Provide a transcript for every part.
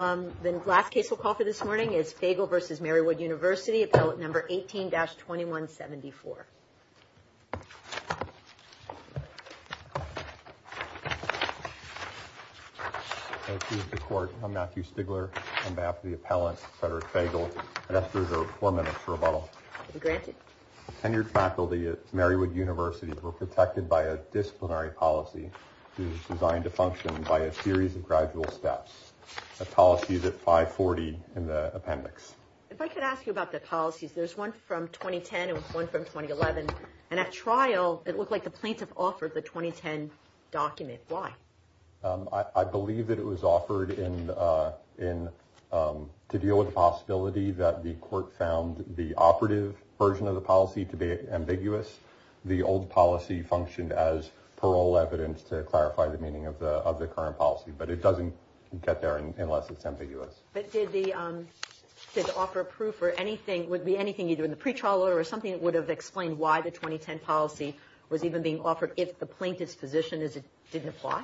Fagal Jr v. Marywood University Appellant 18-2174 Tenured faculty at Marywood University were protected by a disciplinary policy designed to function by a series of gradual steps. A policy that's 540 in the appendix. If I could ask you about the policies, there's one from 2010 and one from 2011. And at trial, it looked like the plaintiff offered the 2010 document. Why? I believe that it was offered to deal with the possibility that the court found the operative version of the policy to be ambiguous. The old policy functioned as parole evidence to clarify the meaning of the current policy. But it doesn't get there unless it's ambiguous. But did the offer of proof or anything, would be anything either in the pretrial order or something that would have explained why the 2010 policy was even being offered if the plaintiff's position is it didn't apply?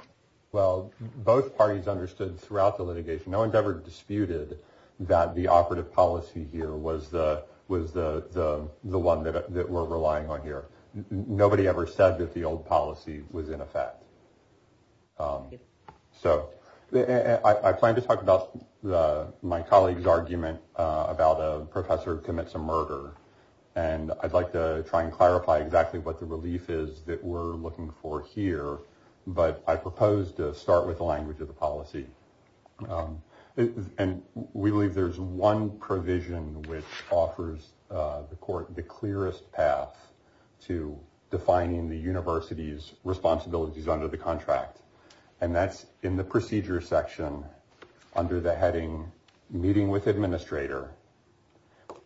Well, both parties understood throughout the litigation, no one's ever disputed that the operative policy here was the one that we're relying on here. Nobody ever said that the old policy was in effect. So I plan to talk about my colleague's argument about a professor who commits a murder. And I'd like to try and clarify exactly what the relief is that we're looking for here. But I propose to start with the language of the policy. And we believe there's one provision which offers the court the clearest path to defining the university's responsibilities under the contract. And that's in the procedure section under the heading meeting with administrator.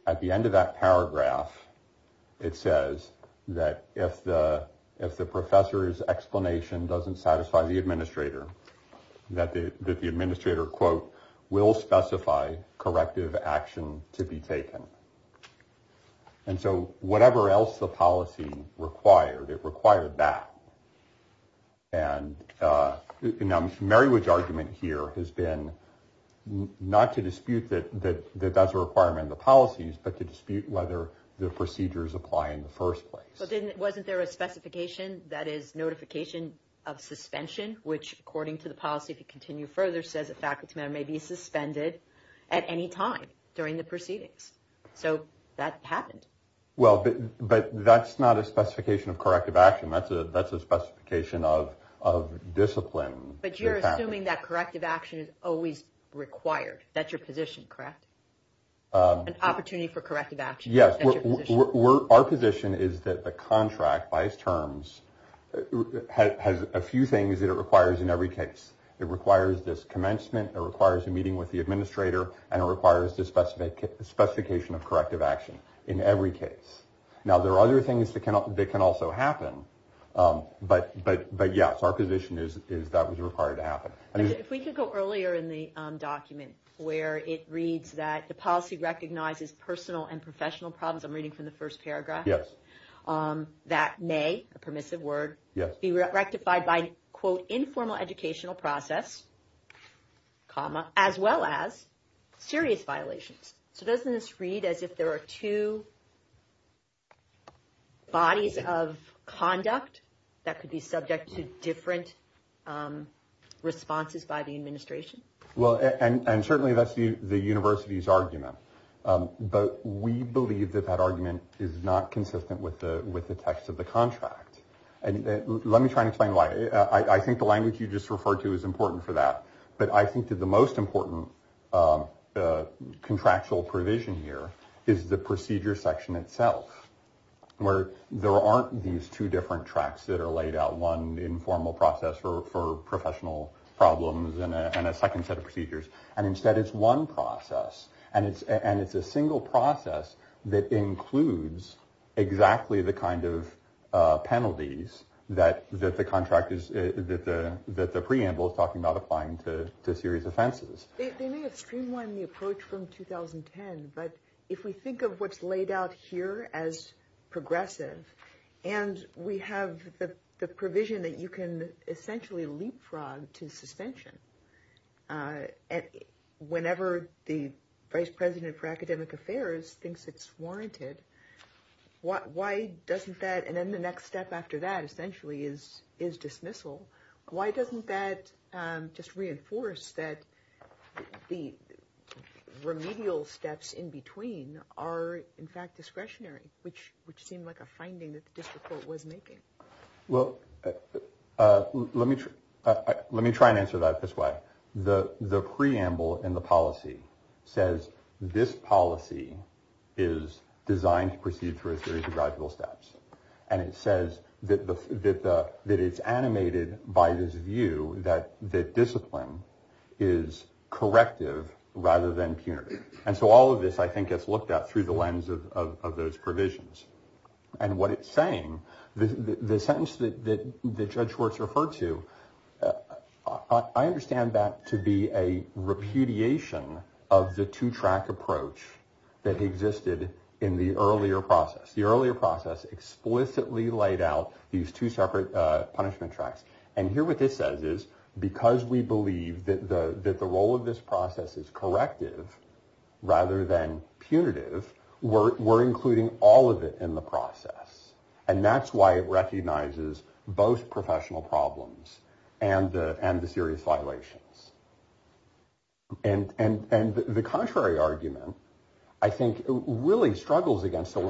At the end of that paragraph, it says that if the professor's explanation doesn't satisfy the administrator, that the administrator, quote, will specify corrective action to be taken. And so whatever else the policy required, it required that. And now, Merriwitch's argument here has been not to dispute that that's a requirement of the policies, but to dispute whether the procedures apply in the first place. But then wasn't there a specification that is notification of suspension, which according to the policy to continue further says a faculty member may be suspended at any time during the proceedings? So that happened. Well, but that's not a specification of corrective action. That's a that's a specification of discipline. But you're assuming that corrective action is always required. That's your position, correct? An opportunity for corrective action. Yes, we're our position is that the contract by its terms has a few things that it requires in every case. It requires this commencement. It requires a meeting with the administrator. And it requires this specific specification of corrective action in every case. Now, there are other things that can that can also happen. But but but yes, our position is is that was required to happen. If we could go earlier in the document where it reads that the policy recognizes personal and professional problems. I'm reading from the first paragraph. Yes. That may a permissive word. Yes. Be rectified by, quote, informal educational process, comma, as well as serious violations. So doesn't this read as if there are two. Bodies of conduct that could be subject to different responses by the administration. Well, and certainly that's the university's argument. But we believe that that argument is not consistent with the with the text of the contract. And let me try and explain why. I think the language you just referred to is important for that. But I think that the most important contractual provision here is the procedure section itself, where there aren't these two different tracks that are laid out. One informal process for professional problems and a second set of procedures. And instead, it's one process. And it's and it's a single process that includes exactly the kind of penalties that that the contract is, that the that the preamble is talking about applying to serious offenses. They may have streamlined the approach from 2010. But if we think of what's laid out here as progressive and we have the provision that you can essentially leapfrog to suspension. And whenever the vice president for academic affairs thinks it's warranted. Why doesn't that and then the next step after that essentially is is dismissal. Why doesn't that just reinforce that the remedial steps in between are in fact discretionary, which which seemed like a finding that the district court was making? Well, let me let me try and answer that this way. The the preamble in the policy says this policy is designed to proceed through a series of gradual steps. And it says that that that it's animated by this view that that discipline is corrective rather than punitive. And so all of this, I think, gets looked at through the lens of those provisions. And what it's saying, the sentence that the judge was referred to. I understand that to be a repudiation of the two track approach that existed in the earlier process. The earlier process explicitly laid out these two separate punishment tracks. And here what this says is because we believe that the role of this process is corrective rather than punitive. We're we're including all of it in the process. And that's why it recognizes both professional problems and and the serious violations. And and and the contrary argument, I think, really struggles against the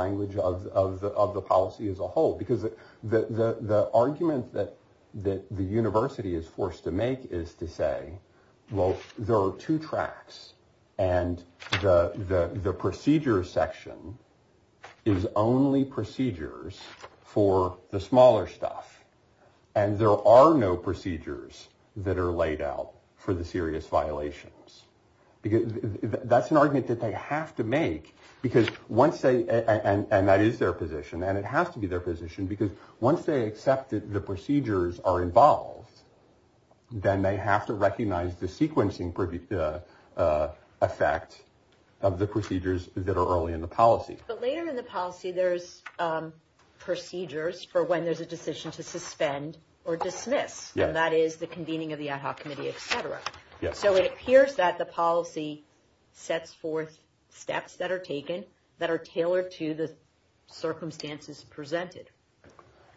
language of the of the policy as a whole, because the argument that that the university is forced to make is to say, well, there are two tracks and the procedure section is only procedures for the smaller stuff. And there are no procedures that are laid out for the serious violations. That's an argument that they have to make, because once they and that is their position and it has to be their position, because once they accept that the procedures are involved, then they have to recognize the sequencing effect of the procedures that are early in the policy. But later in the policy, there's procedures for when there's a decision to suspend or dismiss. Yeah, that is the convening of the ad hoc committee, et cetera. Yes. So it appears that the policy sets forth steps that are taken that are tailored to the circumstances presented.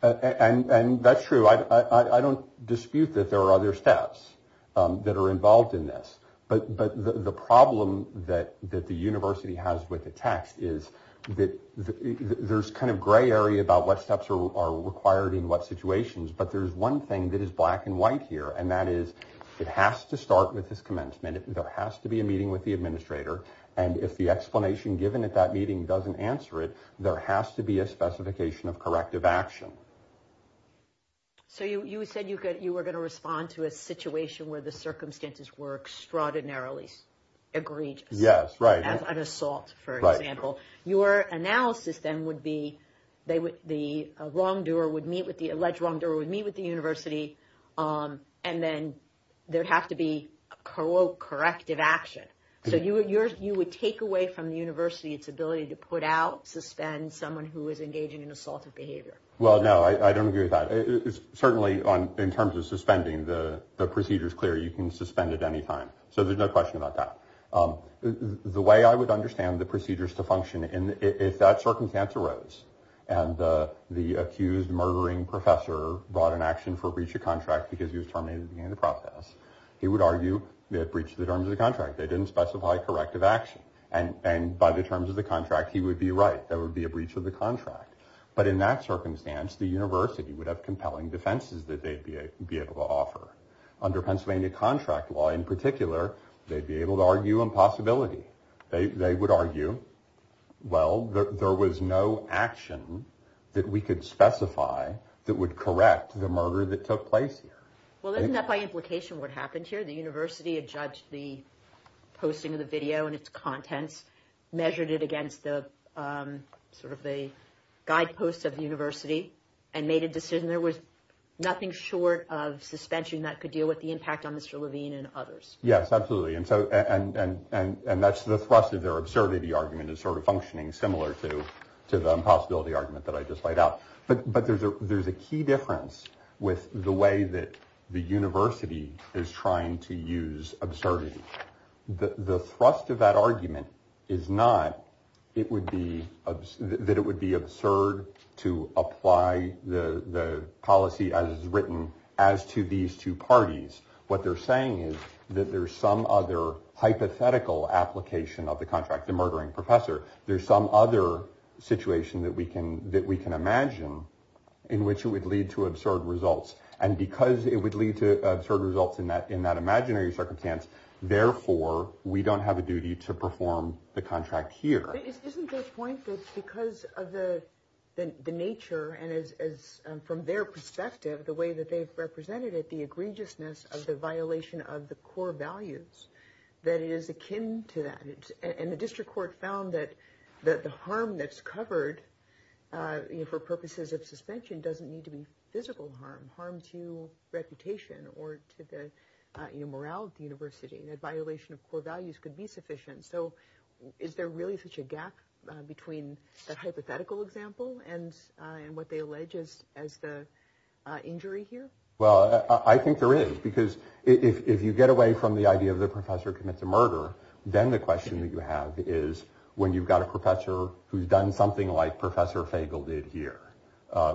And that's true. I don't dispute that there are other steps that are involved in this. But but the problem that that the university has with the text is that there's kind of gray area about what steps are required in what situations. But there's one thing that is black and white here, and that is it has to start with this commencement. There has to be a meeting with the administrator. And if the explanation given at that meeting doesn't answer it, there has to be a specification of corrective action. So you said you could you were going to respond to a situation where the circumstances were extraordinarily egregious. Yes. Right. An assault, for example. Your analysis then would be they would the wrongdoer would meet with the alleged wrongdoer would meet with the university. And then there'd have to be a corrective action. So you would you would take away from the university its ability to put out suspend someone who is engaging in assaultive behavior. Well, no, I don't agree with that. It's certainly on in terms of suspending the procedures. It's clear you can suspend at any time. So there's no question about that. The way I would understand the procedures to function in, if that circumstance arose and the accused murdering professor brought an action for breach of contract because he was terminated in the process, he would argue that breached the terms of the contract. They didn't specify corrective action. And and by the terms of the contract, he would be right. That would be a breach of the contract. But in that circumstance, the university would have compelling defenses that they'd be able to offer under Pennsylvania contract law. In particular, they'd be able to argue impossibility. They would argue. Well, there was no action that we could specify that would correct the murder that took place. Well, isn't that by implication what happened here? The university had judged the posting of the video and its contents, measured it against the sort of the guideposts of the university and made a decision. There was nothing short of suspension that could deal with the impact on Mr. Levine and others. Yes, absolutely. And so and and and that's the thrust of their absurdity. The argument is sort of functioning similar to to the impossibility argument that I just laid out. But there's a there's a key difference with the way that the university is trying to use absurdity. The thrust of that argument is not it would be that it would be absurd to apply the policy as written as to these two parties. What they're saying is that there's some other hypothetical application of the contract, the murdering professor. There's some other situation that we can that we can imagine in which it would lead to absurd results. And because it would lead to absurd results in that in that imaginary circumstance. Therefore, we don't have a duty to perform the contract here. Isn't the point that because of the nature and as from their perspective, the way that they've represented it, the egregiousness of the violation of the core values that is akin to that. And the district court found that that the harm that's covered for purposes of suspension doesn't need to be physical harm. Harm to reputation or to the morale of the university. That violation of core values could be sufficient. So is there really such a gap between a hypothetical example and what they allege is as the injury here? Well, I think there is, because if you get away from the idea of the professor commits a murder, then the question that you have is when you've got a professor who's done something like Professor Fagle did here,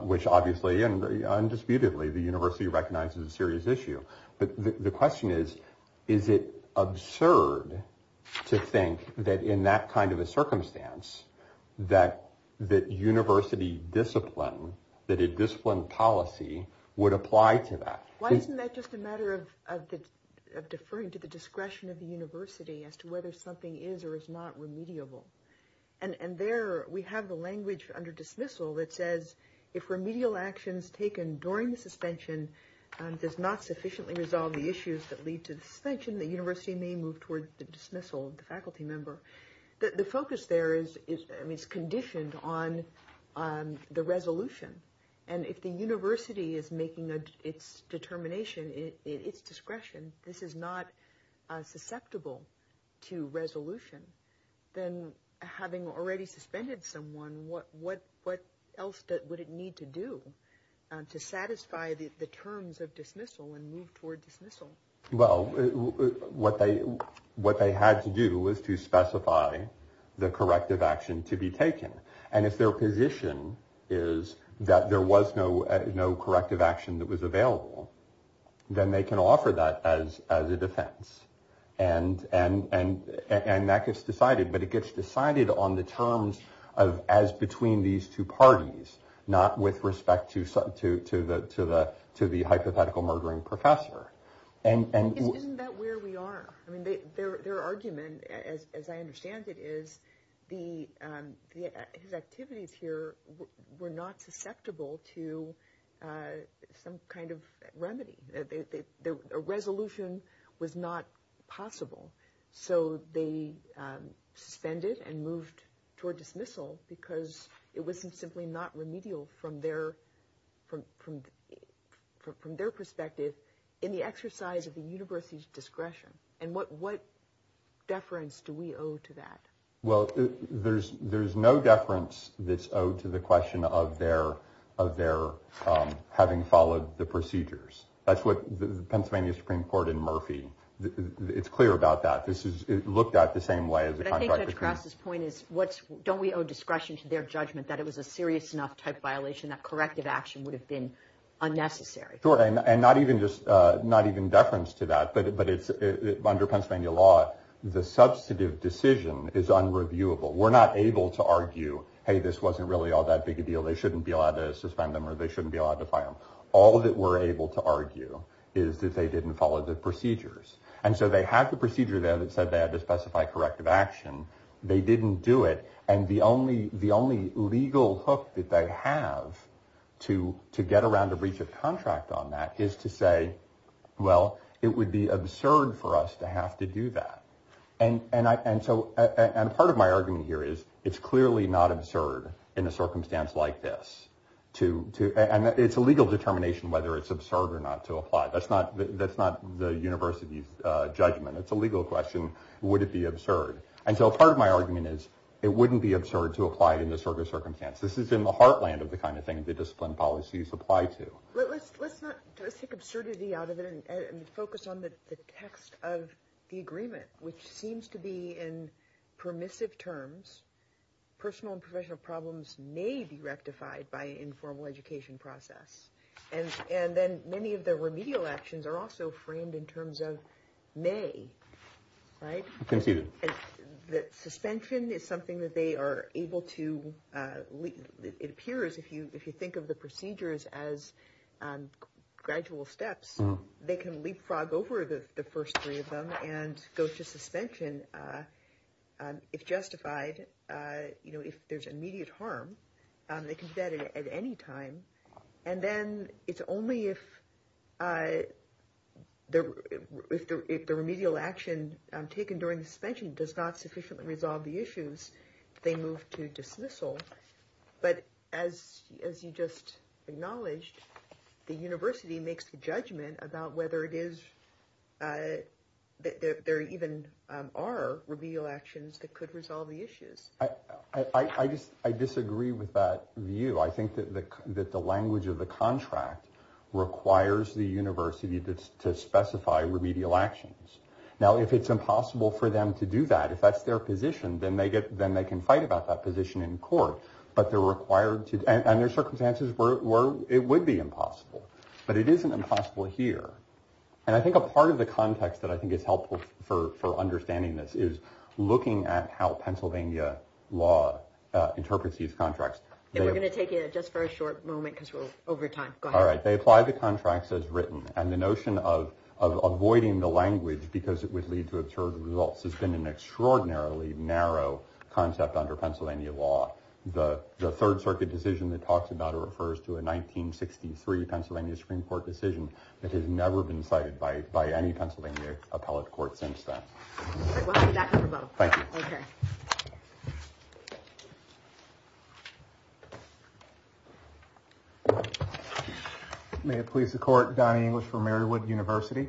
which obviously and undisputedly, the university recognizes a serious issue. But the question is, is it absurd to think that in that kind of a circumstance that that university discipline, that a discipline policy would apply to that? Why isn't that just a matter of deferring to the discretion of the university as to whether something is or is not remediable? And there we have the language under dismissal that says if remedial actions taken during the suspension does not sufficiently resolve the issues that lead to the suspension, the university may move towards the dismissal of the faculty member. The focus there is conditioned on the resolution. And if the university is making its determination in its discretion, this is not susceptible to resolution. Then having already suspended someone, what what what else would it need to do to satisfy the terms of dismissal and move toward dismissal? Well, what they what they had to do was to specify the corrective action to be taken. And if their position is that there was no no corrective action that was available, then they can offer that as as a defense. And and and and that gets decided. But it gets decided on the terms of as between these two parties, not with respect to to to the to the to the hypothetical murdering professor. And isn't that where we are? I mean, their argument, as I understand it, is the activities here were not susceptible to some kind of remedy. The resolution was not possible. So they suspended and moved toward dismissal because it wasn't simply not remedial from there, from from from their perspective in the exercise of the university's discretion. And what what deference do we owe to that? Well, there's there's no difference. This to the question of their of their having followed the procedures. That's what the Pennsylvania Supreme Court in Murphy. It's clear about that. This is looked at the same way as across this point is what's don't we owe discretion to their judgment that it was a serious enough type violation? That corrective action would have been unnecessary and not even just not even deference to that. But it's under Pennsylvania law. The substantive decision is unreviewable. We're not able to argue, hey, this wasn't really all that big a deal. They shouldn't be allowed to suspend them or they shouldn't be allowed to file. All that we're able to argue is that they didn't follow the procedures. And so they have the procedure there that said they had to specify corrective action. They didn't do it. And the only the only legal hook that they have to to get around the breach of contract on that is to say, well, it would be absurd for us to have to do that. And and I and so and part of my argument here is it's clearly not absurd in a circumstance like this to to. And it's a legal determination whether it's absurd or not to apply. That's not that's not the university's judgment. It's a legal question. Would it be absurd? And so part of my argument is it wouldn't be absurd to apply it in this sort of circumstance. This is in the heartland of the kind of thing that discipline policies apply to. Let's let's not take absurdity out of it and focus on the text of the agreement, which seems to be in permissive terms. Personal and professional problems may be rectified by informal education process. And and then many of the remedial actions are also framed in terms of may. Right. Conceded that suspension is something that they are able to. It appears if you if you think of the procedures as gradual steps, they can leapfrog over the first three of them and go to suspension. If justified, you know, if there's immediate harm, they can do that at any time. And then it's only if if the remedial action taken during the suspension does not sufficiently resolve the issues, they move to dismissal. But as as you just acknowledged, the university makes a judgment about whether it is that there even are remedial actions that could resolve the issues. I just I disagree with that view. I think that the that the language of the contract requires the university to specify remedial actions. Now, if it's impossible for them to do that, if that's their position, then they get then they can fight about that position in court. But they're required to. And there's circumstances where it would be impossible, but it isn't impossible here. And I think a part of the context that I think is helpful for for understanding this is looking at how Pennsylvania law interprets these contracts. We're going to take it just for a short moment because we're over time. All right. They apply the contracts as written. And the notion of avoiding the language because it would lead to absurd results has been an extraordinarily narrow concept under Pennsylvania law. The Third Circuit decision that talks about it refers to a 1963 Pennsylvania Supreme Court decision that has never been cited by by any Pennsylvania appellate court since then. Thank you. May it please the court. Donny English from Marywood University.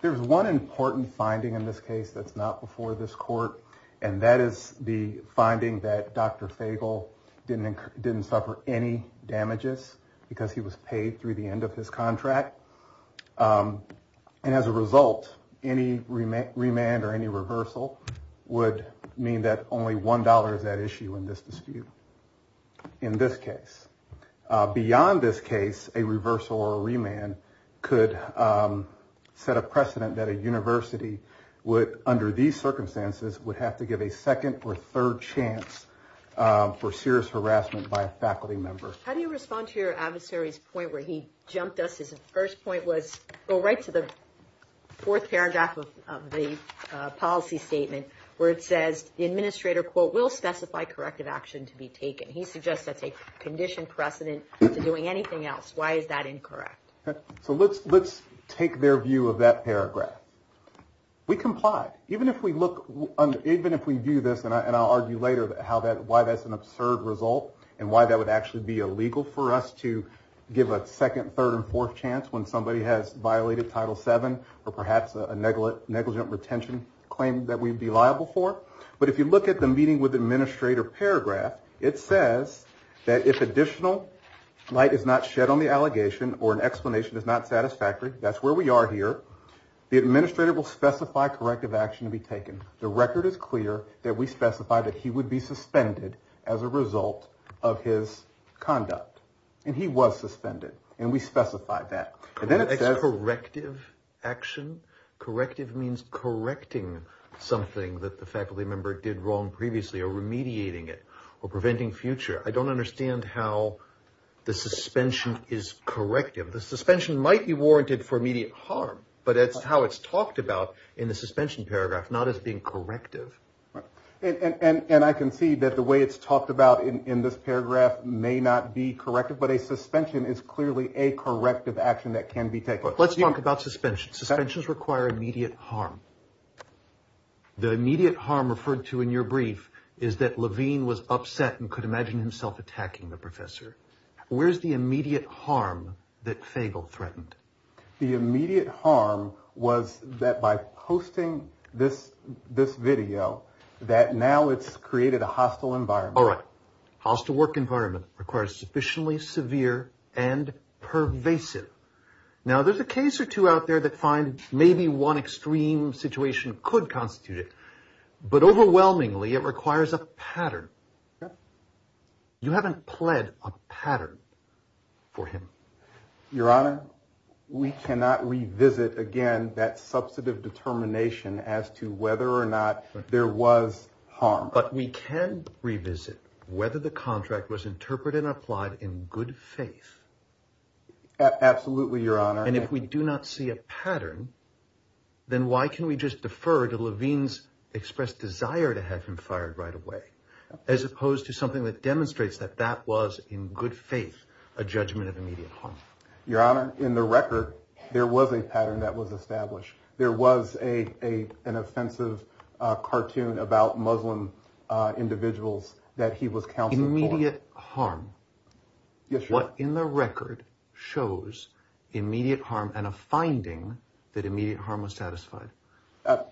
There's one important finding in this case that's not before this court. And that is the finding that Dr. Fable didn't didn't suffer any damages because he was paid through the end of his contract. And as a result, any remand or any reversal would mean that only one dollar is at issue in this dispute. In this case, beyond this case, a reversal or remand could set a precedent that a university would under these circumstances would have to give a second or third chance for serious harassment by a faculty member. How do you respond to your adversaries point where he jumped us? His first point was go right to the fourth paragraph of the policy statement where it says the administrator, quote, will specify corrective action to be taken. He suggests that's a conditioned precedent to doing anything else. Why is that incorrect? So let's let's take their view of that paragraph. We comply. Even if we look even if we do this and I'll argue later how that why that's an absurd result and why that would actually be illegal for us to give a second, third and fourth chance when somebody has violated Title seven or perhaps a negligent negligent retention claim that we'd be liable for. But if you look at the meeting with the administrator paragraph, it says that if additional light is not shed on the allegation or an explanation is not satisfactory, that's where we are here. The administrator will specify corrective action to be taken. The record is clear that we specify that he would be suspended as a result of his conduct. And he was suspended and we specified that corrective action. Corrective means correcting something that the faculty member did wrong previously or remediating it or preventing future. I don't understand how the suspension is corrective. The suspension might be warranted for immediate harm, but that's how it's talked about in the suspension paragraph, not as being corrective. And I can see that the way it's talked about in this paragraph may not be corrective, but a suspension is clearly a corrective action that can be taken. Let's talk about suspension. Suspensions require immediate harm. The immediate harm referred to in your brief is that Levine was upset and could imagine himself attacking the professor. Where's the immediate harm that Fagle threatened? The immediate harm was that by posting this this video that now it's created a hostile environment. All right. Hostile work environment requires sufficiently severe and pervasive. Now, there's a case or two out there that find maybe one extreme situation could constitute it. But overwhelmingly, it requires a pattern. You haven't pled a pattern for him. Your Honor, we cannot revisit again that substantive determination as to whether or not there was harm, but we can revisit whether the contract was interpreted and applied in good faith. Absolutely, Your Honor. And if we do not see a pattern, then why can we just defer to Levine's expressed desire to have him fired right away, as opposed to something that demonstrates that that was in good faith, a judgment of immediate harm. Your Honor, in the record, there was a pattern that was established. There was a an offensive cartoon about Muslim individuals that he was counseling immediate harm. What in the record shows immediate harm and a finding that immediate harm was satisfied.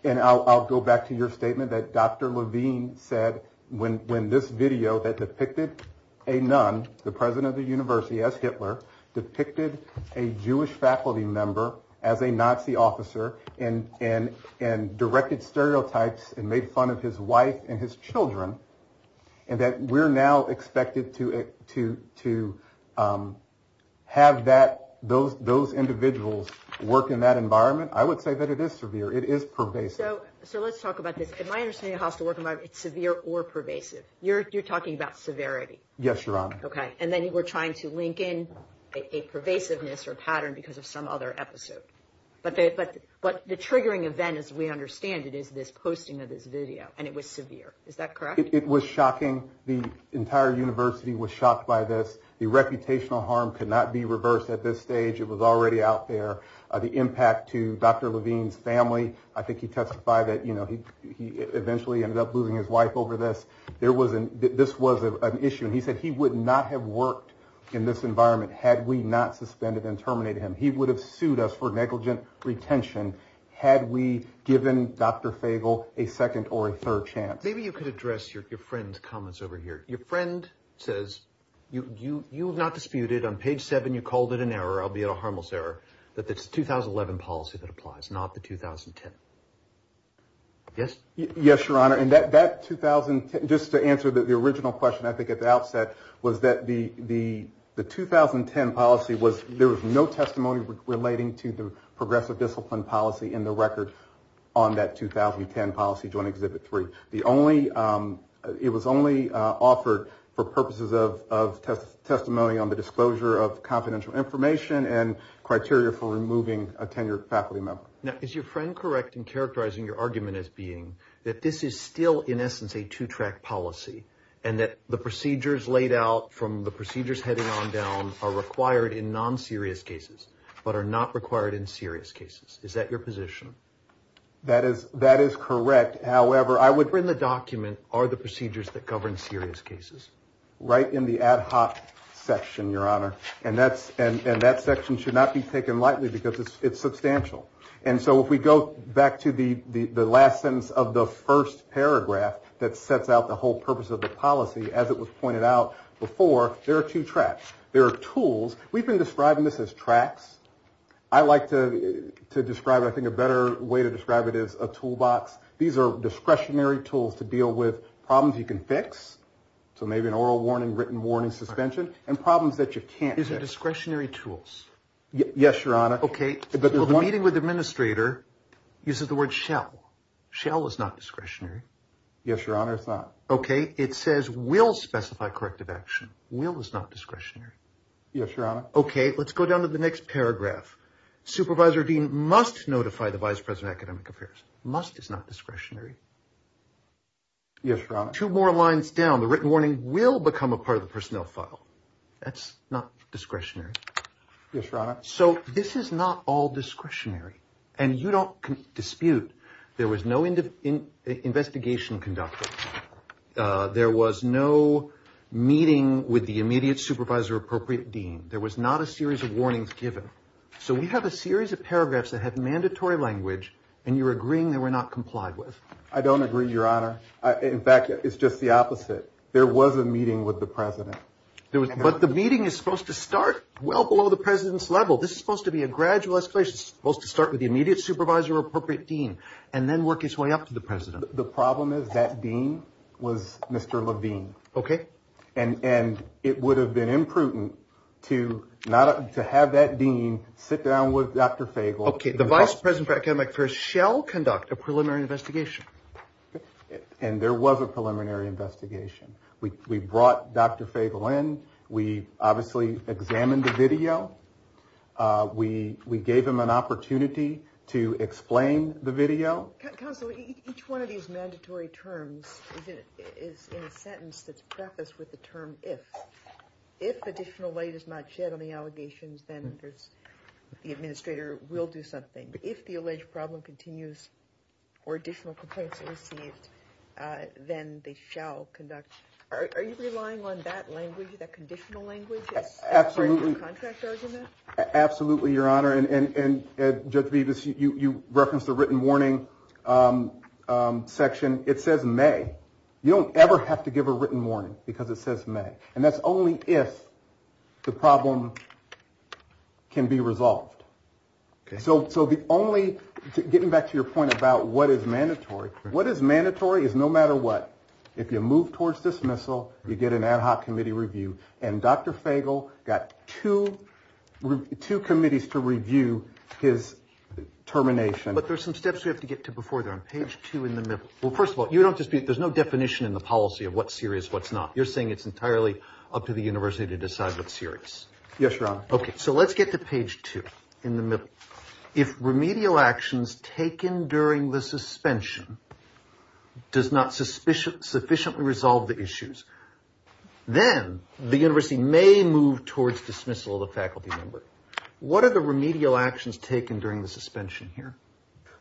And I'll go back to your statement that Dr. Levine said when when this video that depicted a nun, the president of the university as Hitler depicted a Jewish faculty member as a Nazi officer and and and directed stereotypes and made fun of his wife and his children. And that we're now expected to to to have that those those individuals work in that environment. I would say that it is severe. It is pervasive. So let's talk about this. My understanding of how to work. It's severe or pervasive. You're talking about severity. Yes, Your Honor. Okay. And then we're trying to link in a pervasiveness or pattern because of some other episode. But the triggering event, as we understand it, is this posting of this video. And it was severe. Is that correct? It was shocking. The entire university was shocked by this. The reputational harm could not be reversed at this stage. It was already out there. The impact to Dr. Levine's family. I think he testified that, you know, he eventually ended up losing his wife over this. This was an issue. And he said he would not have worked in this environment had we not suspended and terminated him. He would have sued us for negligent retention had we given Dr. Fagle a second or a third chance. Maybe you could address your friend's comments over here. Your friend says you you you have not disputed on page seven. You called it an error, albeit a harmless error. But it's the 2011 policy that applies, not the 2010. Yes? Yes, Your Honor. And that 2010, just to answer the original question I think at the outset, was that the 2010 policy was, there was no testimony relating to the progressive discipline policy in the record on that 2010 policy during Exhibit 3. The only it was only offered for purposes of of testimony on the disclosure of confidential information and criteria for removing a tenured faculty member. Now, is your friend correct in characterizing your argument as being that this is still in essence a two track policy and that the procedures laid out from the procedures heading on down are required in non-serious cases but are not required in serious cases? Is that your position? That is that is correct. However, I would bring the document or the procedures that govern serious cases right in the ad hoc section, Your Honor. And that's and that section should not be taken lightly because it's substantial. And so if we go back to the last sentence of the first paragraph that sets out the whole purpose of the policy, as it was pointed out before, there are two tracks. There are tools. We've been describing this as tracks. I like to describe it, I think, a better way to describe it as a toolbox. These are discretionary tools to deal with problems you can fix. So maybe an oral warning, written warning, suspension, and problems that you can't fix. Is it discretionary tools? Yes, Your Honor. Okay. Well, the meeting with the administrator uses the word shall. Shall is not discretionary. Yes, Your Honor, it's not. Okay. It says will specify corrective action. Will is not discretionary. Yes, Your Honor. Okay. Let's go down to the next paragraph. Supervisor Dean must notify the vice president of academic affairs. Must is not discretionary. Yes, Your Honor. Two more lines down. The written warning will become a part of the personnel file. That's not discretionary. Yes, Your Honor. So this is not all discretionary and you don't dispute there was no investigation conducted. There was no meeting with the immediate supervisor or appropriate dean. There was not a series of warnings given. So we have a series of paragraphs that have mandatory language and you're agreeing they were not complied with. I don't agree, Your Honor. In fact, it's just the opposite. There was a meeting with the president. But the meeting is supposed to start well below the president's level. This is supposed to be a gradual escalation. It's supposed to start with the immediate supervisor or appropriate dean and then work its way up to the president. The problem is that dean was Mr. Levine. Okay. And it would have been imprudent to have that dean sit down with Dr. Fagel. Okay. The vice president for academic affairs shall conduct a preliminary investigation. And there was a preliminary investigation. We brought Dr. Fagel in. We obviously examined the video. We gave him an opportunity to explain the video. Counsel, each one of these mandatory terms is in a sentence that's prefaced with the term if. If additional weight is not shed on the allegations, then the administrator will do something. If the alleged problem continues or additional complaints are received, then they shall conduct. Are you relying on that language, that conditional language as part of the contract argument? Absolutely, Your Honor. And Judge Bevis, you referenced the written warning section. It says may. You don't ever have to give a written warning because it says may. And that's only if the problem can be resolved. So the only getting back to your point about what is mandatory, what is mandatory is no matter what. If you move towards dismissal, you get an ad hoc committee review. Two committees to review his termination. But there's some steps we have to get to before they're on page two in the middle. Well, first of all, you don't dispute there's no definition in the policy of what's serious, what's not. You're saying it's entirely up to the university to decide what's serious. Yes, Your Honor. OK, so let's get to page two in the middle. If remedial actions taken during the suspension. Does not suspicion sufficiently resolve the issues, then the university may move towards dismissal of the faculty member. What are the remedial actions taken during the suspension here?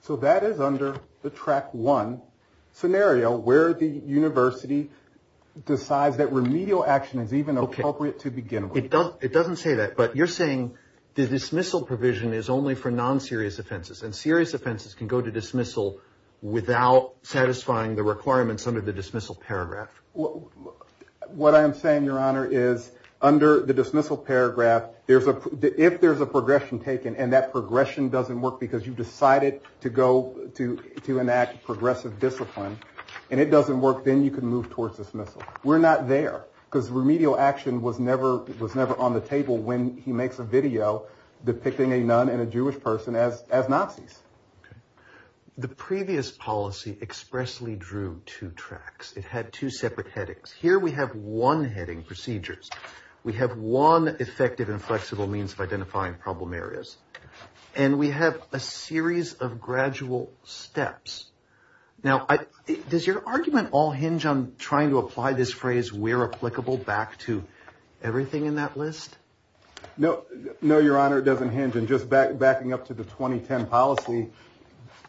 So that is under the track one scenario where the university decides that remedial action is even appropriate to begin with. It doesn't say that, but you're saying the dismissal provision is only for non-serious offenses and serious offenses can go to dismissal without satisfying the requirements under the dismissal paragraph. What I'm saying, Your Honor, is under the dismissal paragraph, there's a if there's a progression taken and that progression doesn't work because you've decided to go to to enact progressive discipline and it doesn't work, then you can move towards dismissal. We're not there because remedial action was never was never on the table when he makes a video depicting a nun and a Jewish person as as Nazis. The previous policy expressly drew two tracks. It had two separate headings. Here we have one heading procedures. We have one effective and flexible means of identifying problem areas and we have a series of gradual steps. Now, does your argument all hinge on trying to apply this phrase we're applicable back to everything in that list? No, no, Your Honor. It doesn't hinge. And just back backing up to the 2010 policy.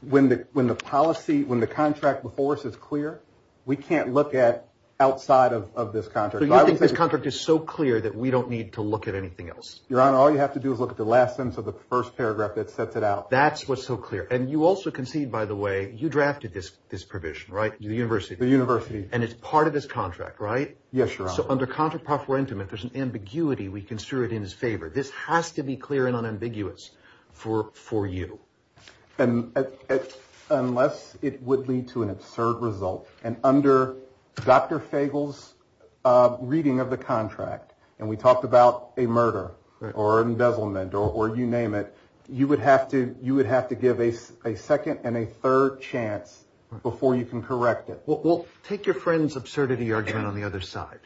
When the when the policy when the contract before us is clear, we can't look at outside of this contract. I think this contract is so clear that we don't need to look at anything else. Your Honor, all you have to do is look at the last sentence of the first paragraph that sets it out. That's what's so clear. And you also concede, by the way, you drafted this this provision, right? The university, the university. And it's part of this contract, right? Yes, Your Honor. So under contra preferentum, if there's an ambiguity, we can stir it in his favor. This has to be clear and unambiguous for for you. And unless it would lead to an absurd result and under Dr. Fagel's reading of the contract. And we talked about a murder or embezzlement or you name it. You would have to you would have to give a second and a third chance before you can correct it. Well, take your friend's absurdity argument on the other side.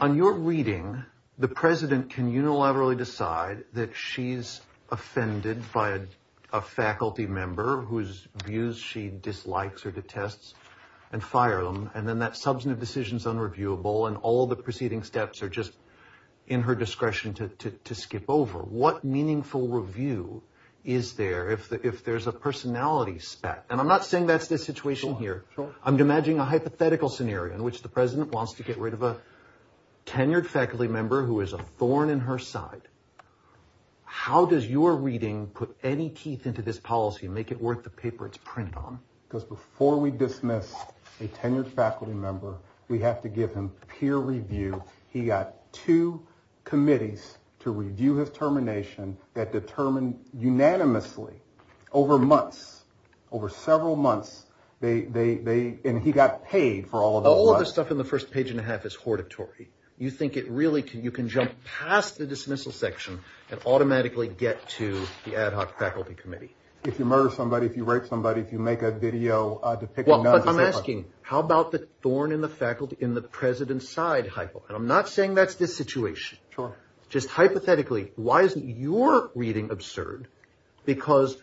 On your reading, the president can unilaterally decide that she's offended by a faculty member whose views she dislikes or detests and fire them. And then that substantive decision is unreviewable. And all the preceding steps are just in her discretion to skip over. What meaningful review is there if if there's a personality spec? And I'm not saying that's the situation here. I'm imagining a hypothetical scenario in which the president wants to get rid of a tenured faculty member who is a thorn in her side. How does your reading put any teeth into this policy and make it worth the paper it's printed on? Because before we dismiss a tenured faculty member, we have to give him peer review. He got two committees to review his termination that determined unanimously over months, over several months. They and he got paid for all of the stuff in the first page and a half is hortatory. You think it really can. You can jump past the dismissal section and automatically get to the ad hoc faculty committee. If you murder somebody, if you rape somebody, if you make a video. Well, I'm asking how about the thorn in the faculty in the president's side? And I'm not saying that's the situation. Just hypothetically, why isn't your reading absurd? Because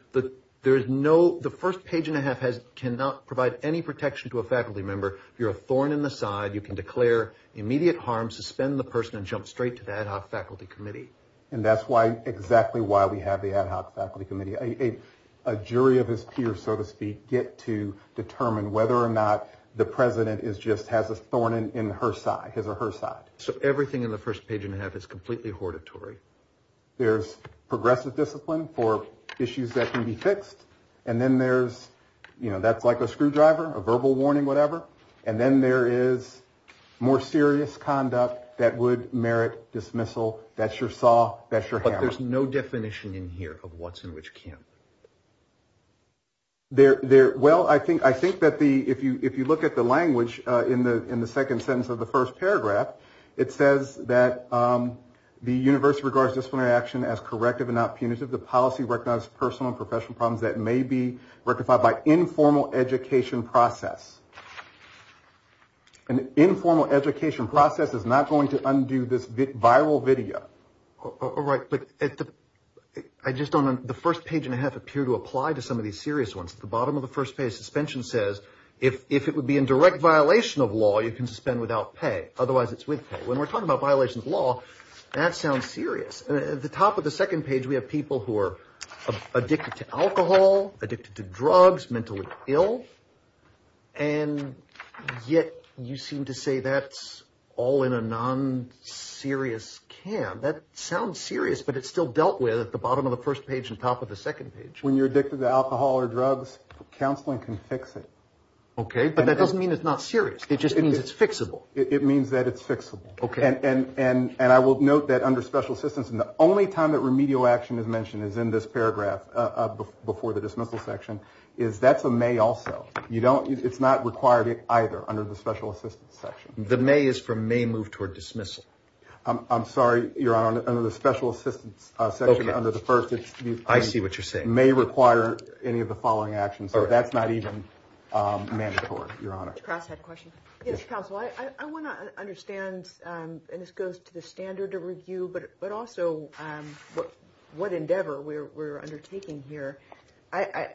there is no the first page and a half has cannot provide any protection to a faculty member. You're a thorn in the side. You can declare immediate harm, suspend the person and jump straight to the ad hoc faculty committee. And that's why exactly why we have the ad hoc faculty committee. A jury of his peers, so to speak, get to determine whether or not the president is just has a thorn in her side, his or her side. So everything in the first page and a half is completely hortatory. There's progressive discipline for issues that can be fixed. And then there's you know, that's like a screwdriver, a verbal warning, whatever. And then there is more serious conduct that would merit dismissal. That's your saw. That's your hammer. There's no definition in here of what's in which camp. There there. Well, I think I think that the if you if you look at the language in the in the second sentence of the first paragraph, it says that the university regards disciplinary action as corrective and not punitive. The policy recognized personal and professional problems that may be rectified by informal education process. An informal education process is not going to undo this viral video. All right. But I just don't. The first page and a half appear to apply to some of these serious ones. The bottom of the first page suspension says if it would be in direct violation of law, you can suspend without pay. Otherwise, it's with when we're talking about violations of law. That sounds serious. At the top of the second page, we have people who are addicted to alcohol, addicted to drugs, mentally ill. And yet you seem to say that's all in a non serious camp that sounds serious, but it's still dealt with at the bottom of the first page and top of the second page. When you're addicted to alcohol or drugs, counseling can fix it. OK, but that doesn't mean it's not serious. It just means it's fixable. It means that it's fixable. OK. And and and I will note that under special assistance and the only time that remedial action is mentioned is in this paragraph before the dismissal section is that's a may also. You don't it's not required either under the special assistance section. The may is from may move toward dismissal. I'm sorry, you're on under the special assistance section under the first. I see what you're saying may require any of the following actions. So that's not even mandatory. Your Honor. I want to understand. And this goes to the standard of review, but but also what what endeavor we're undertaking here. I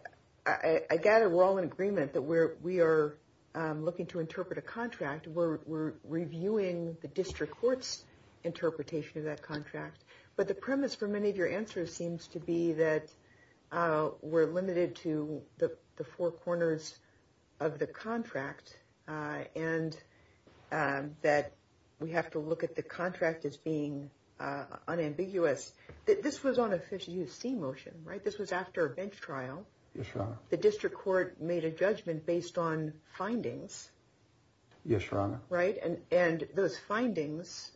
I gather we're all in agreement that we're we are looking to interpret a contract where we're reviewing the district court's interpretation of that contract. But the premise for many of your answers seems to be that we're limited to the four corners of the contract and that we have to look at the contract as being unambiguous. This was on a 50 U.S.C. motion, right? This was after a bench trial. The district court made a judgment based on findings. Yes, Your Honor. Right. And and those findings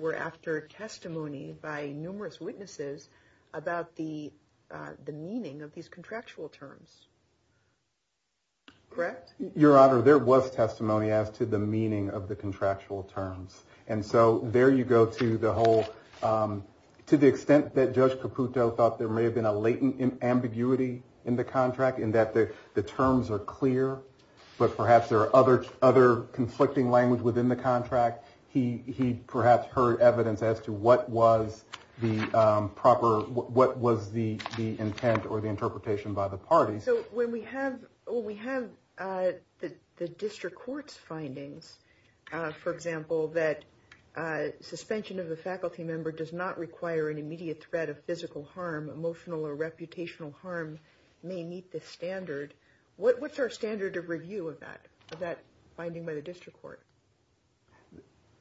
were after testimony by numerous witnesses about the the meaning of these contractual terms. Correct. Your Honor, there was testimony as to the meaning of the contractual terms. And so there you go to the whole to the extent that Judge Caputo thought there may have been a latent ambiguity in the contract and that the terms are clear. But perhaps there are other other conflicting language within the contract. He he perhaps heard evidence as to what was the proper what was the the intent or the interpretation by the party. So when we have when we have the district court's findings, for example, that suspension of a faculty member does not require an immediate threat of physical harm, emotional or reputational harm may meet the standard. What what's our standard of review of that of that finding by the district court?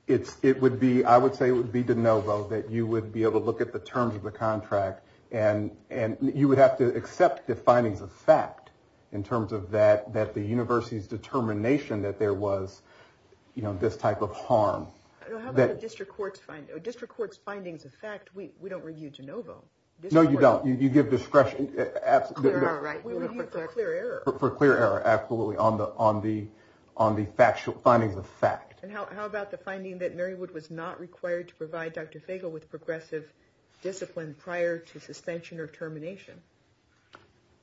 It's it would be I would say it would be DeNovo that you would be able to look at the terms of the contract and and you would have to accept the findings of fact in terms of that, that the university's determination that there was, you know, this type of harm. The district court's district court's findings of fact, we we don't review DeNovo. No, you don't. You give discretion. Absolutely. All right. For clear error. Absolutely. On the on the on the factual findings of fact. And how about the finding that Mary would was not required to provide Dr. Fagel with progressive discipline prior to suspension or termination?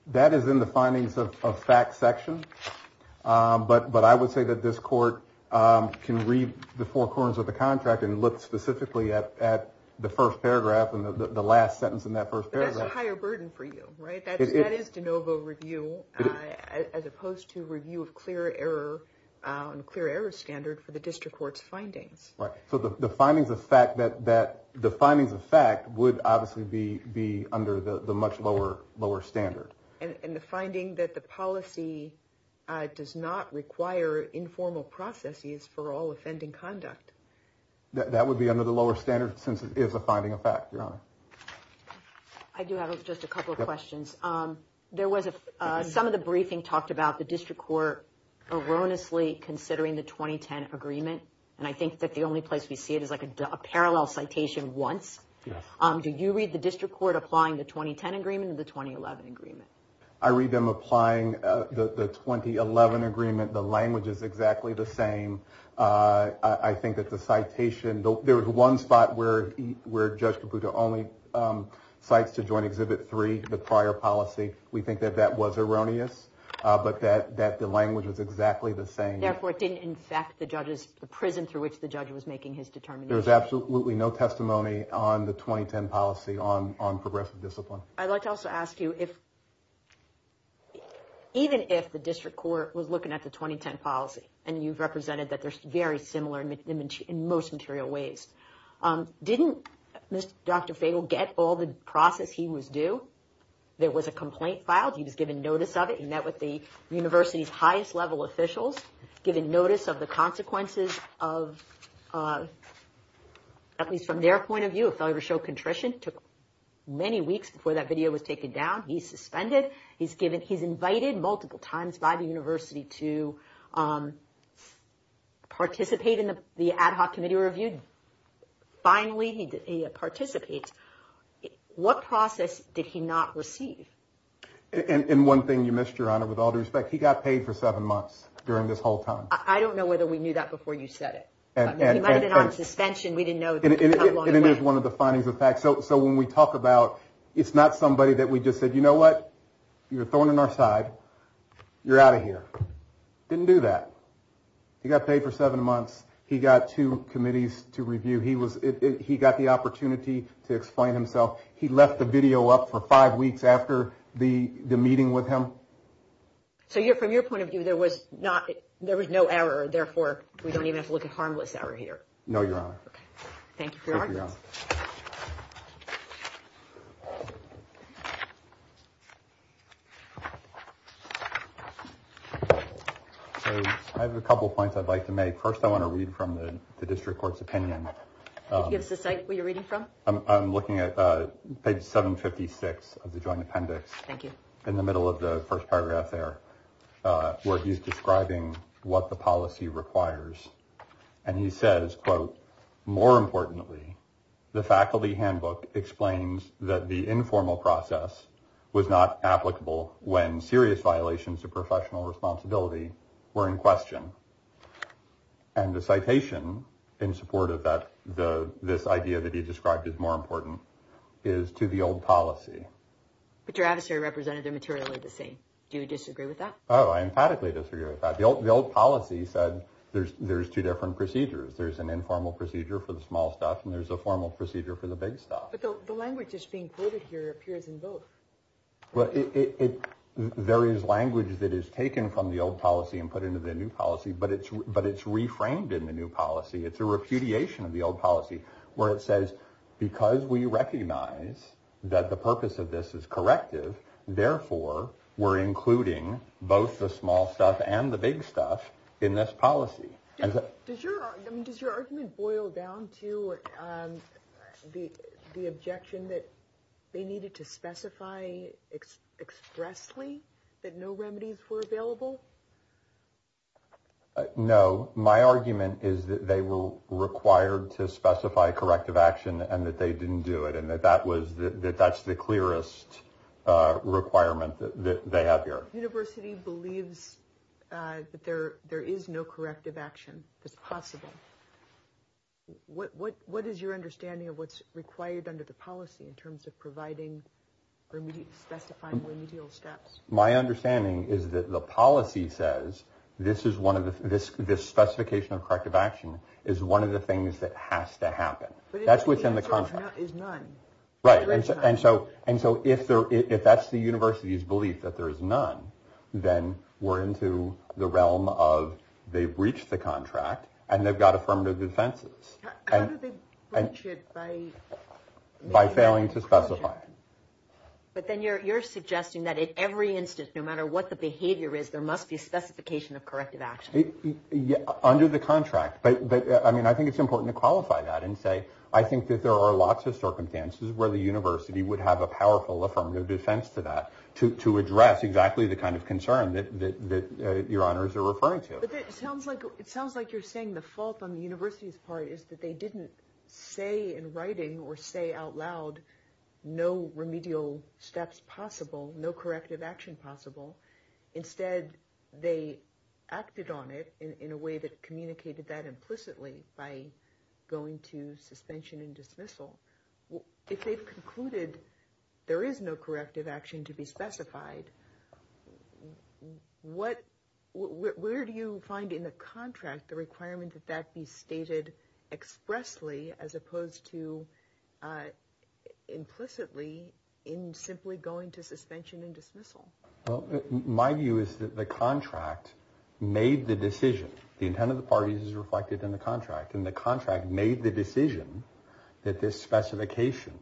That is in the findings of fact section. But but I would say that this court can read the four corners of the contract and look specifically at at the first paragraph and the last sentence in that first paragraph. That's a higher burden for you. Right. That is DeNovo review as opposed to review of clear error and clear error standard for the district court's findings. Right. So the findings of fact that that the findings of fact would obviously be be under the much lower, lower standard. And the finding that the policy does not require informal processes for all offending conduct. That would be under the lower standard since it is a finding of fact. I do have just a couple of questions. There was some of the briefing talked about the district court erroneously considering the 2010 agreement. And I think that the only place we see it is like a parallel citation once. Do you read the district court applying the 2010 agreement in the 2011 agreement? I read them applying the 2011 agreement. The language is exactly the same. I think that the citation there was one spot where where Judge Caputo only cites to join exhibit three. The prior policy. We think that that was erroneous, but that that the language is exactly the same. Therefore, it didn't infect the judges. The prison through which the judge was making his determination. There's absolutely no testimony on the 2010 policy on on progressive discipline. I'd like to also ask you if even if the district court was looking at the 2010 policy and you've represented that they're very similar in most material ways. Didn't Dr. Fagle get all the process he was due? There was a complaint filed. He was given notice of it and met with the university's highest level officials, given notice of the consequences of at least from their point of view, a failure to show contrition took many weeks before that video was taken down. He's suspended. He's given. He's invited multiple times by the university to participate in the ad hoc committee review. Finally, he participates. What process did he not receive? And one thing you missed, Your Honor, with all due respect, he got paid for seven months during this whole time. I don't know whether we knew that before you said it. Suspension. We didn't know. And it is one of the findings of facts. So when we talk about it's not somebody that we just said, you know what? You're throwing in our side. You're out of here. Didn't do that. He got paid for seven months. He got two committees to review. He was he got the opportunity to explain himself. He left the video up for five weeks after the meeting with him. So you're from your point of view, there was not there was no error. Therefore, we don't even have to look at harmless error here. No, Your Honor. Thank you. I have a couple of points I'd like to make. First, I want to read from the district court's opinion. Give us a site where you're reading from. I'm looking at page 756 of the joint appendix. Thank you. In the middle of the first paragraph there, where he's describing what the policy requires. And he says, quote, more importantly, the faculty handbook explains that the informal process was not applicable when serious violations of professional responsibility were in question. And the citation in support of that, the this idea that he described is more important is to the old policy. But your adversary represented them materially the same. Do you disagree with that? Oh, I emphatically disagree with that. The old policy said there's there's two different procedures. There's an informal procedure for the small stuff, and there's a formal procedure for the big stuff. But the language is being quoted here appears in both. Well, it there is language that is taken from the old policy and put into the new policy. But it's but it's reframed in the new policy. It's a repudiation of the old policy where it says, because we recognize that the purpose of this is corrective. Therefore, we're including both the small stuff and the big stuff in this policy. Does your I mean, does your argument boil down to the the objection that they needed to specify expressly that no remedies were available? And that they didn't do it. And that that was that that's the clearest requirement that they have here. University believes that there there is no corrective action. It's possible. What what what is your understanding of what's required under the policy in terms of providing or specifying remedial steps? My understanding is that the policy says this is one of this. This specification of corrective action is one of the things that has to happen. That's what's in the contract. Right. And so and so if there if that's the university's belief that there is none, then we're into the realm of they've reached the contract and they've got affirmative defenses. And by failing to specify. But then you're you're suggesting that in every instance, no matter what the behavior is, there must be a specification of corrective action under the contract. But I mean, I think it's important to qualify that and say, I think that there are lots of circumstances where the university would have a powerful affirmative defense to that, to to address exactly the kind of concern that your honors are referring to. It sounds like it sounds like you're saying the fault on the university's part is that they didn't say in writing or say out loud no remedial steps possible, no corrective action possible. Instead, they acted on it in a way that communicated that implicitly by going to suspension and dismissal. Well, if they've concluded there is no corrective action to be specified, what where do you find in the contract the requirement that that be stated expressly as opposed to implicitly in simply going to suspension and dismissal? Well, my view is that the contract made the decision. The intent of the parties is reflected in the contract and the contract made the decision that this specification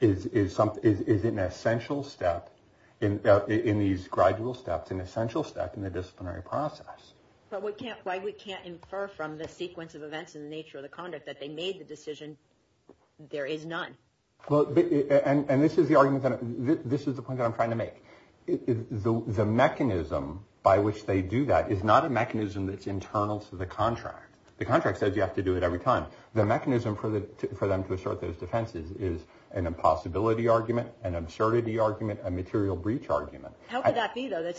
is something is an essential step in these gradual steps, an essential step in the disciplinary process. But we can't why we can't infer from the sequence of events in the nature of the conduct that they made the decision. There is none. Well, and this is the argument that this is the point that I'm trying to make. The mechanism by which they do that is not a mechanism that's internal to the contract. The contract says you have to do it every time. The mechanism for them to assert those defenses is an impossibility argument, an absurdity argument, a material breach argument. How could that be, though?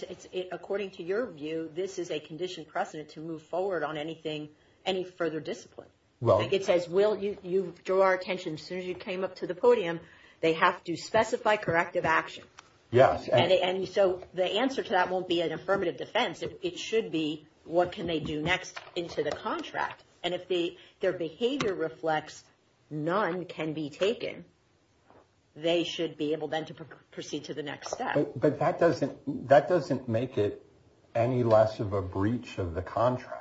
According to your view, this is a conditioned precedent to move forward on anything, any further discipline. It says, well, you drew our attention. As soon as you came up to the podium, they have to specify corrective action. Yes. And so the answer to that won't be an affirmative defense. It should be, what can they do next into the contract? And if their behavior reflects none can be taken, they should be able then to proceed to the next step. But that doesn't make it any less of a breach of the contract.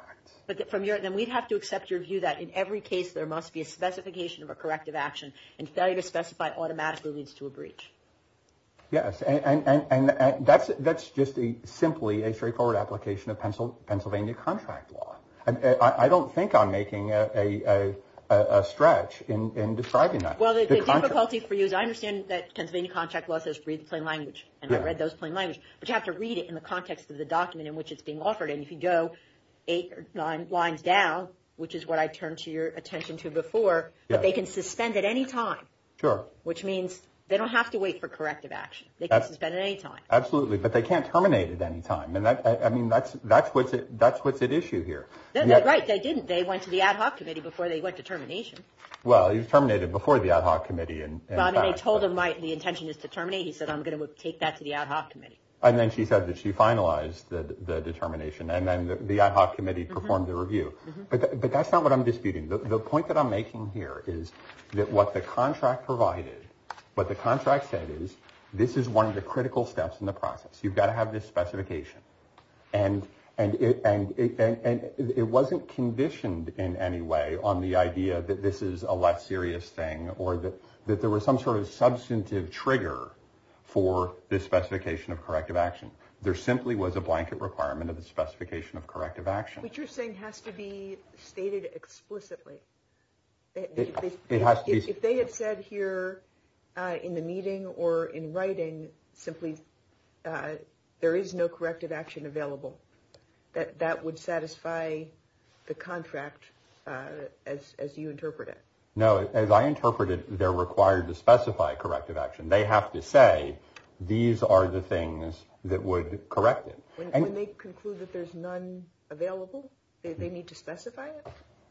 But then we'd have to accept your view that in every case there must be a specification of a corrective action. And failure to specify automatically leads to a breach. Yes. And that's just simply a straightforward application of Pennsylvania contract law. And I don't think I'm making a stretch in describing that. Well, the difficulty for you is I understand that Pennsylvania contract law says read plain language. And I read those plain language. But you have to read it in the context of the document in which it's being offered. And if you go eight or nine lines down, which is what I turned to your attention to before, they can suspend at any time. Sure. Which means they don't have to wait for corrective action. They can suspend at any time. Absolutely. But they can't terminate at any time. I mean, that's what's at issue here. Right, they didn't. They went to the ad hoc committee before they went to termination. Well, you terminated before the ad hoc committee. Well, they told him the intention is to terminate. He said, I'm going to take that to the ad hoc committee. And then she said that she finalized the determination. And then the ad hoc committee performed the review. But that's not what I'm disputing. The point that I'm making here is that what the contract provided, what the contract said is this is one of the critical steps in the process. You've got to have this specification. And it wasn't conditioned in any way on the idea that this is a less serious thing or that there was some sort of substantive trigger for this specification of corrective action. There simply was a blanket requirement of the specification of corrective action. Which you're saying has to be stated explicitly. It has to be. If they had said here in the meeting or in writing simply there is no corrective action available, that would satisfy the contract as you interpret it. No, as I interpreted, they're required to specify corrective action. They have to say these are the things that would correct it. When they conclude that there's none available, they need to specify it?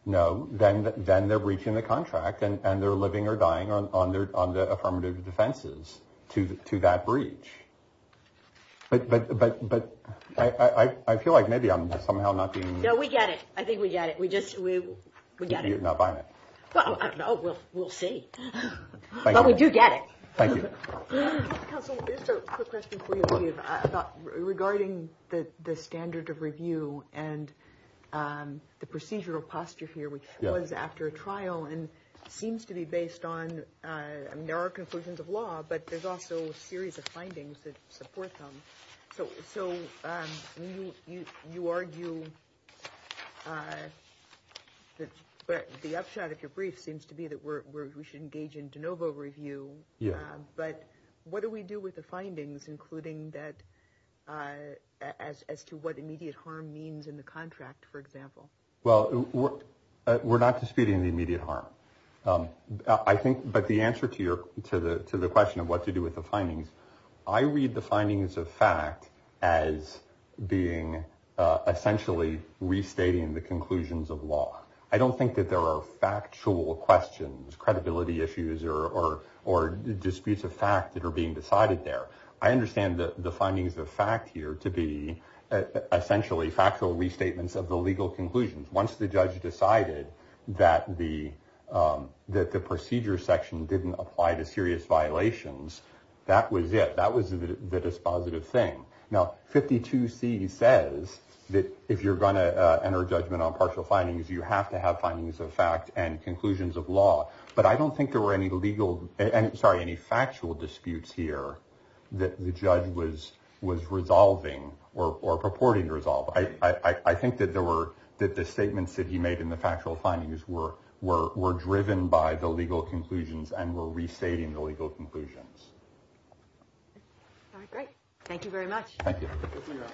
No. Then they're breaching the contract and they're living or dying on the affirmative defenses to that breach. But I feel like maybe I'm somehow not being... No, we get it. I think we get it. You're not buying it. Well, I don't know. We'll see. But we do get it. Thank you. Regarding the standard of review and the procedural posture here, which was after a trial and seems to be based on... I mean, there are conclusions of law, but there's also a series of findings that support them. So you argue that the upshot of your brief seems to be that we should engage in de novo review. But what do we do with the findings, including as to what immediate harm means in the contract, for example? Well, we're not disputing the immediate harm. But the answer to the question of what to do with the findings, I read the findings of fact as being essentially restating the conclusions of law. I don't think that there are factual questions, credibility issues, or disputes of fact that are being decided there. I understand the findings of fact here to be essentially factual restatements of the legal conclusions. Once the judge decided that the procedure section didn't apply to serious violations, that was it. That was the dispositive thing. Now, 52C says that if you're going to enter judgment on partial findings, you have to have findings of fact and conclusions of law. But I don't think there were any factual disputes here that the judge was resolving or purporting to resolve. I think that the statements that he made in the factual findings were driven by the legal conclusions and were restating the legal conclusions. All right, great. Thank you very much. Thank you.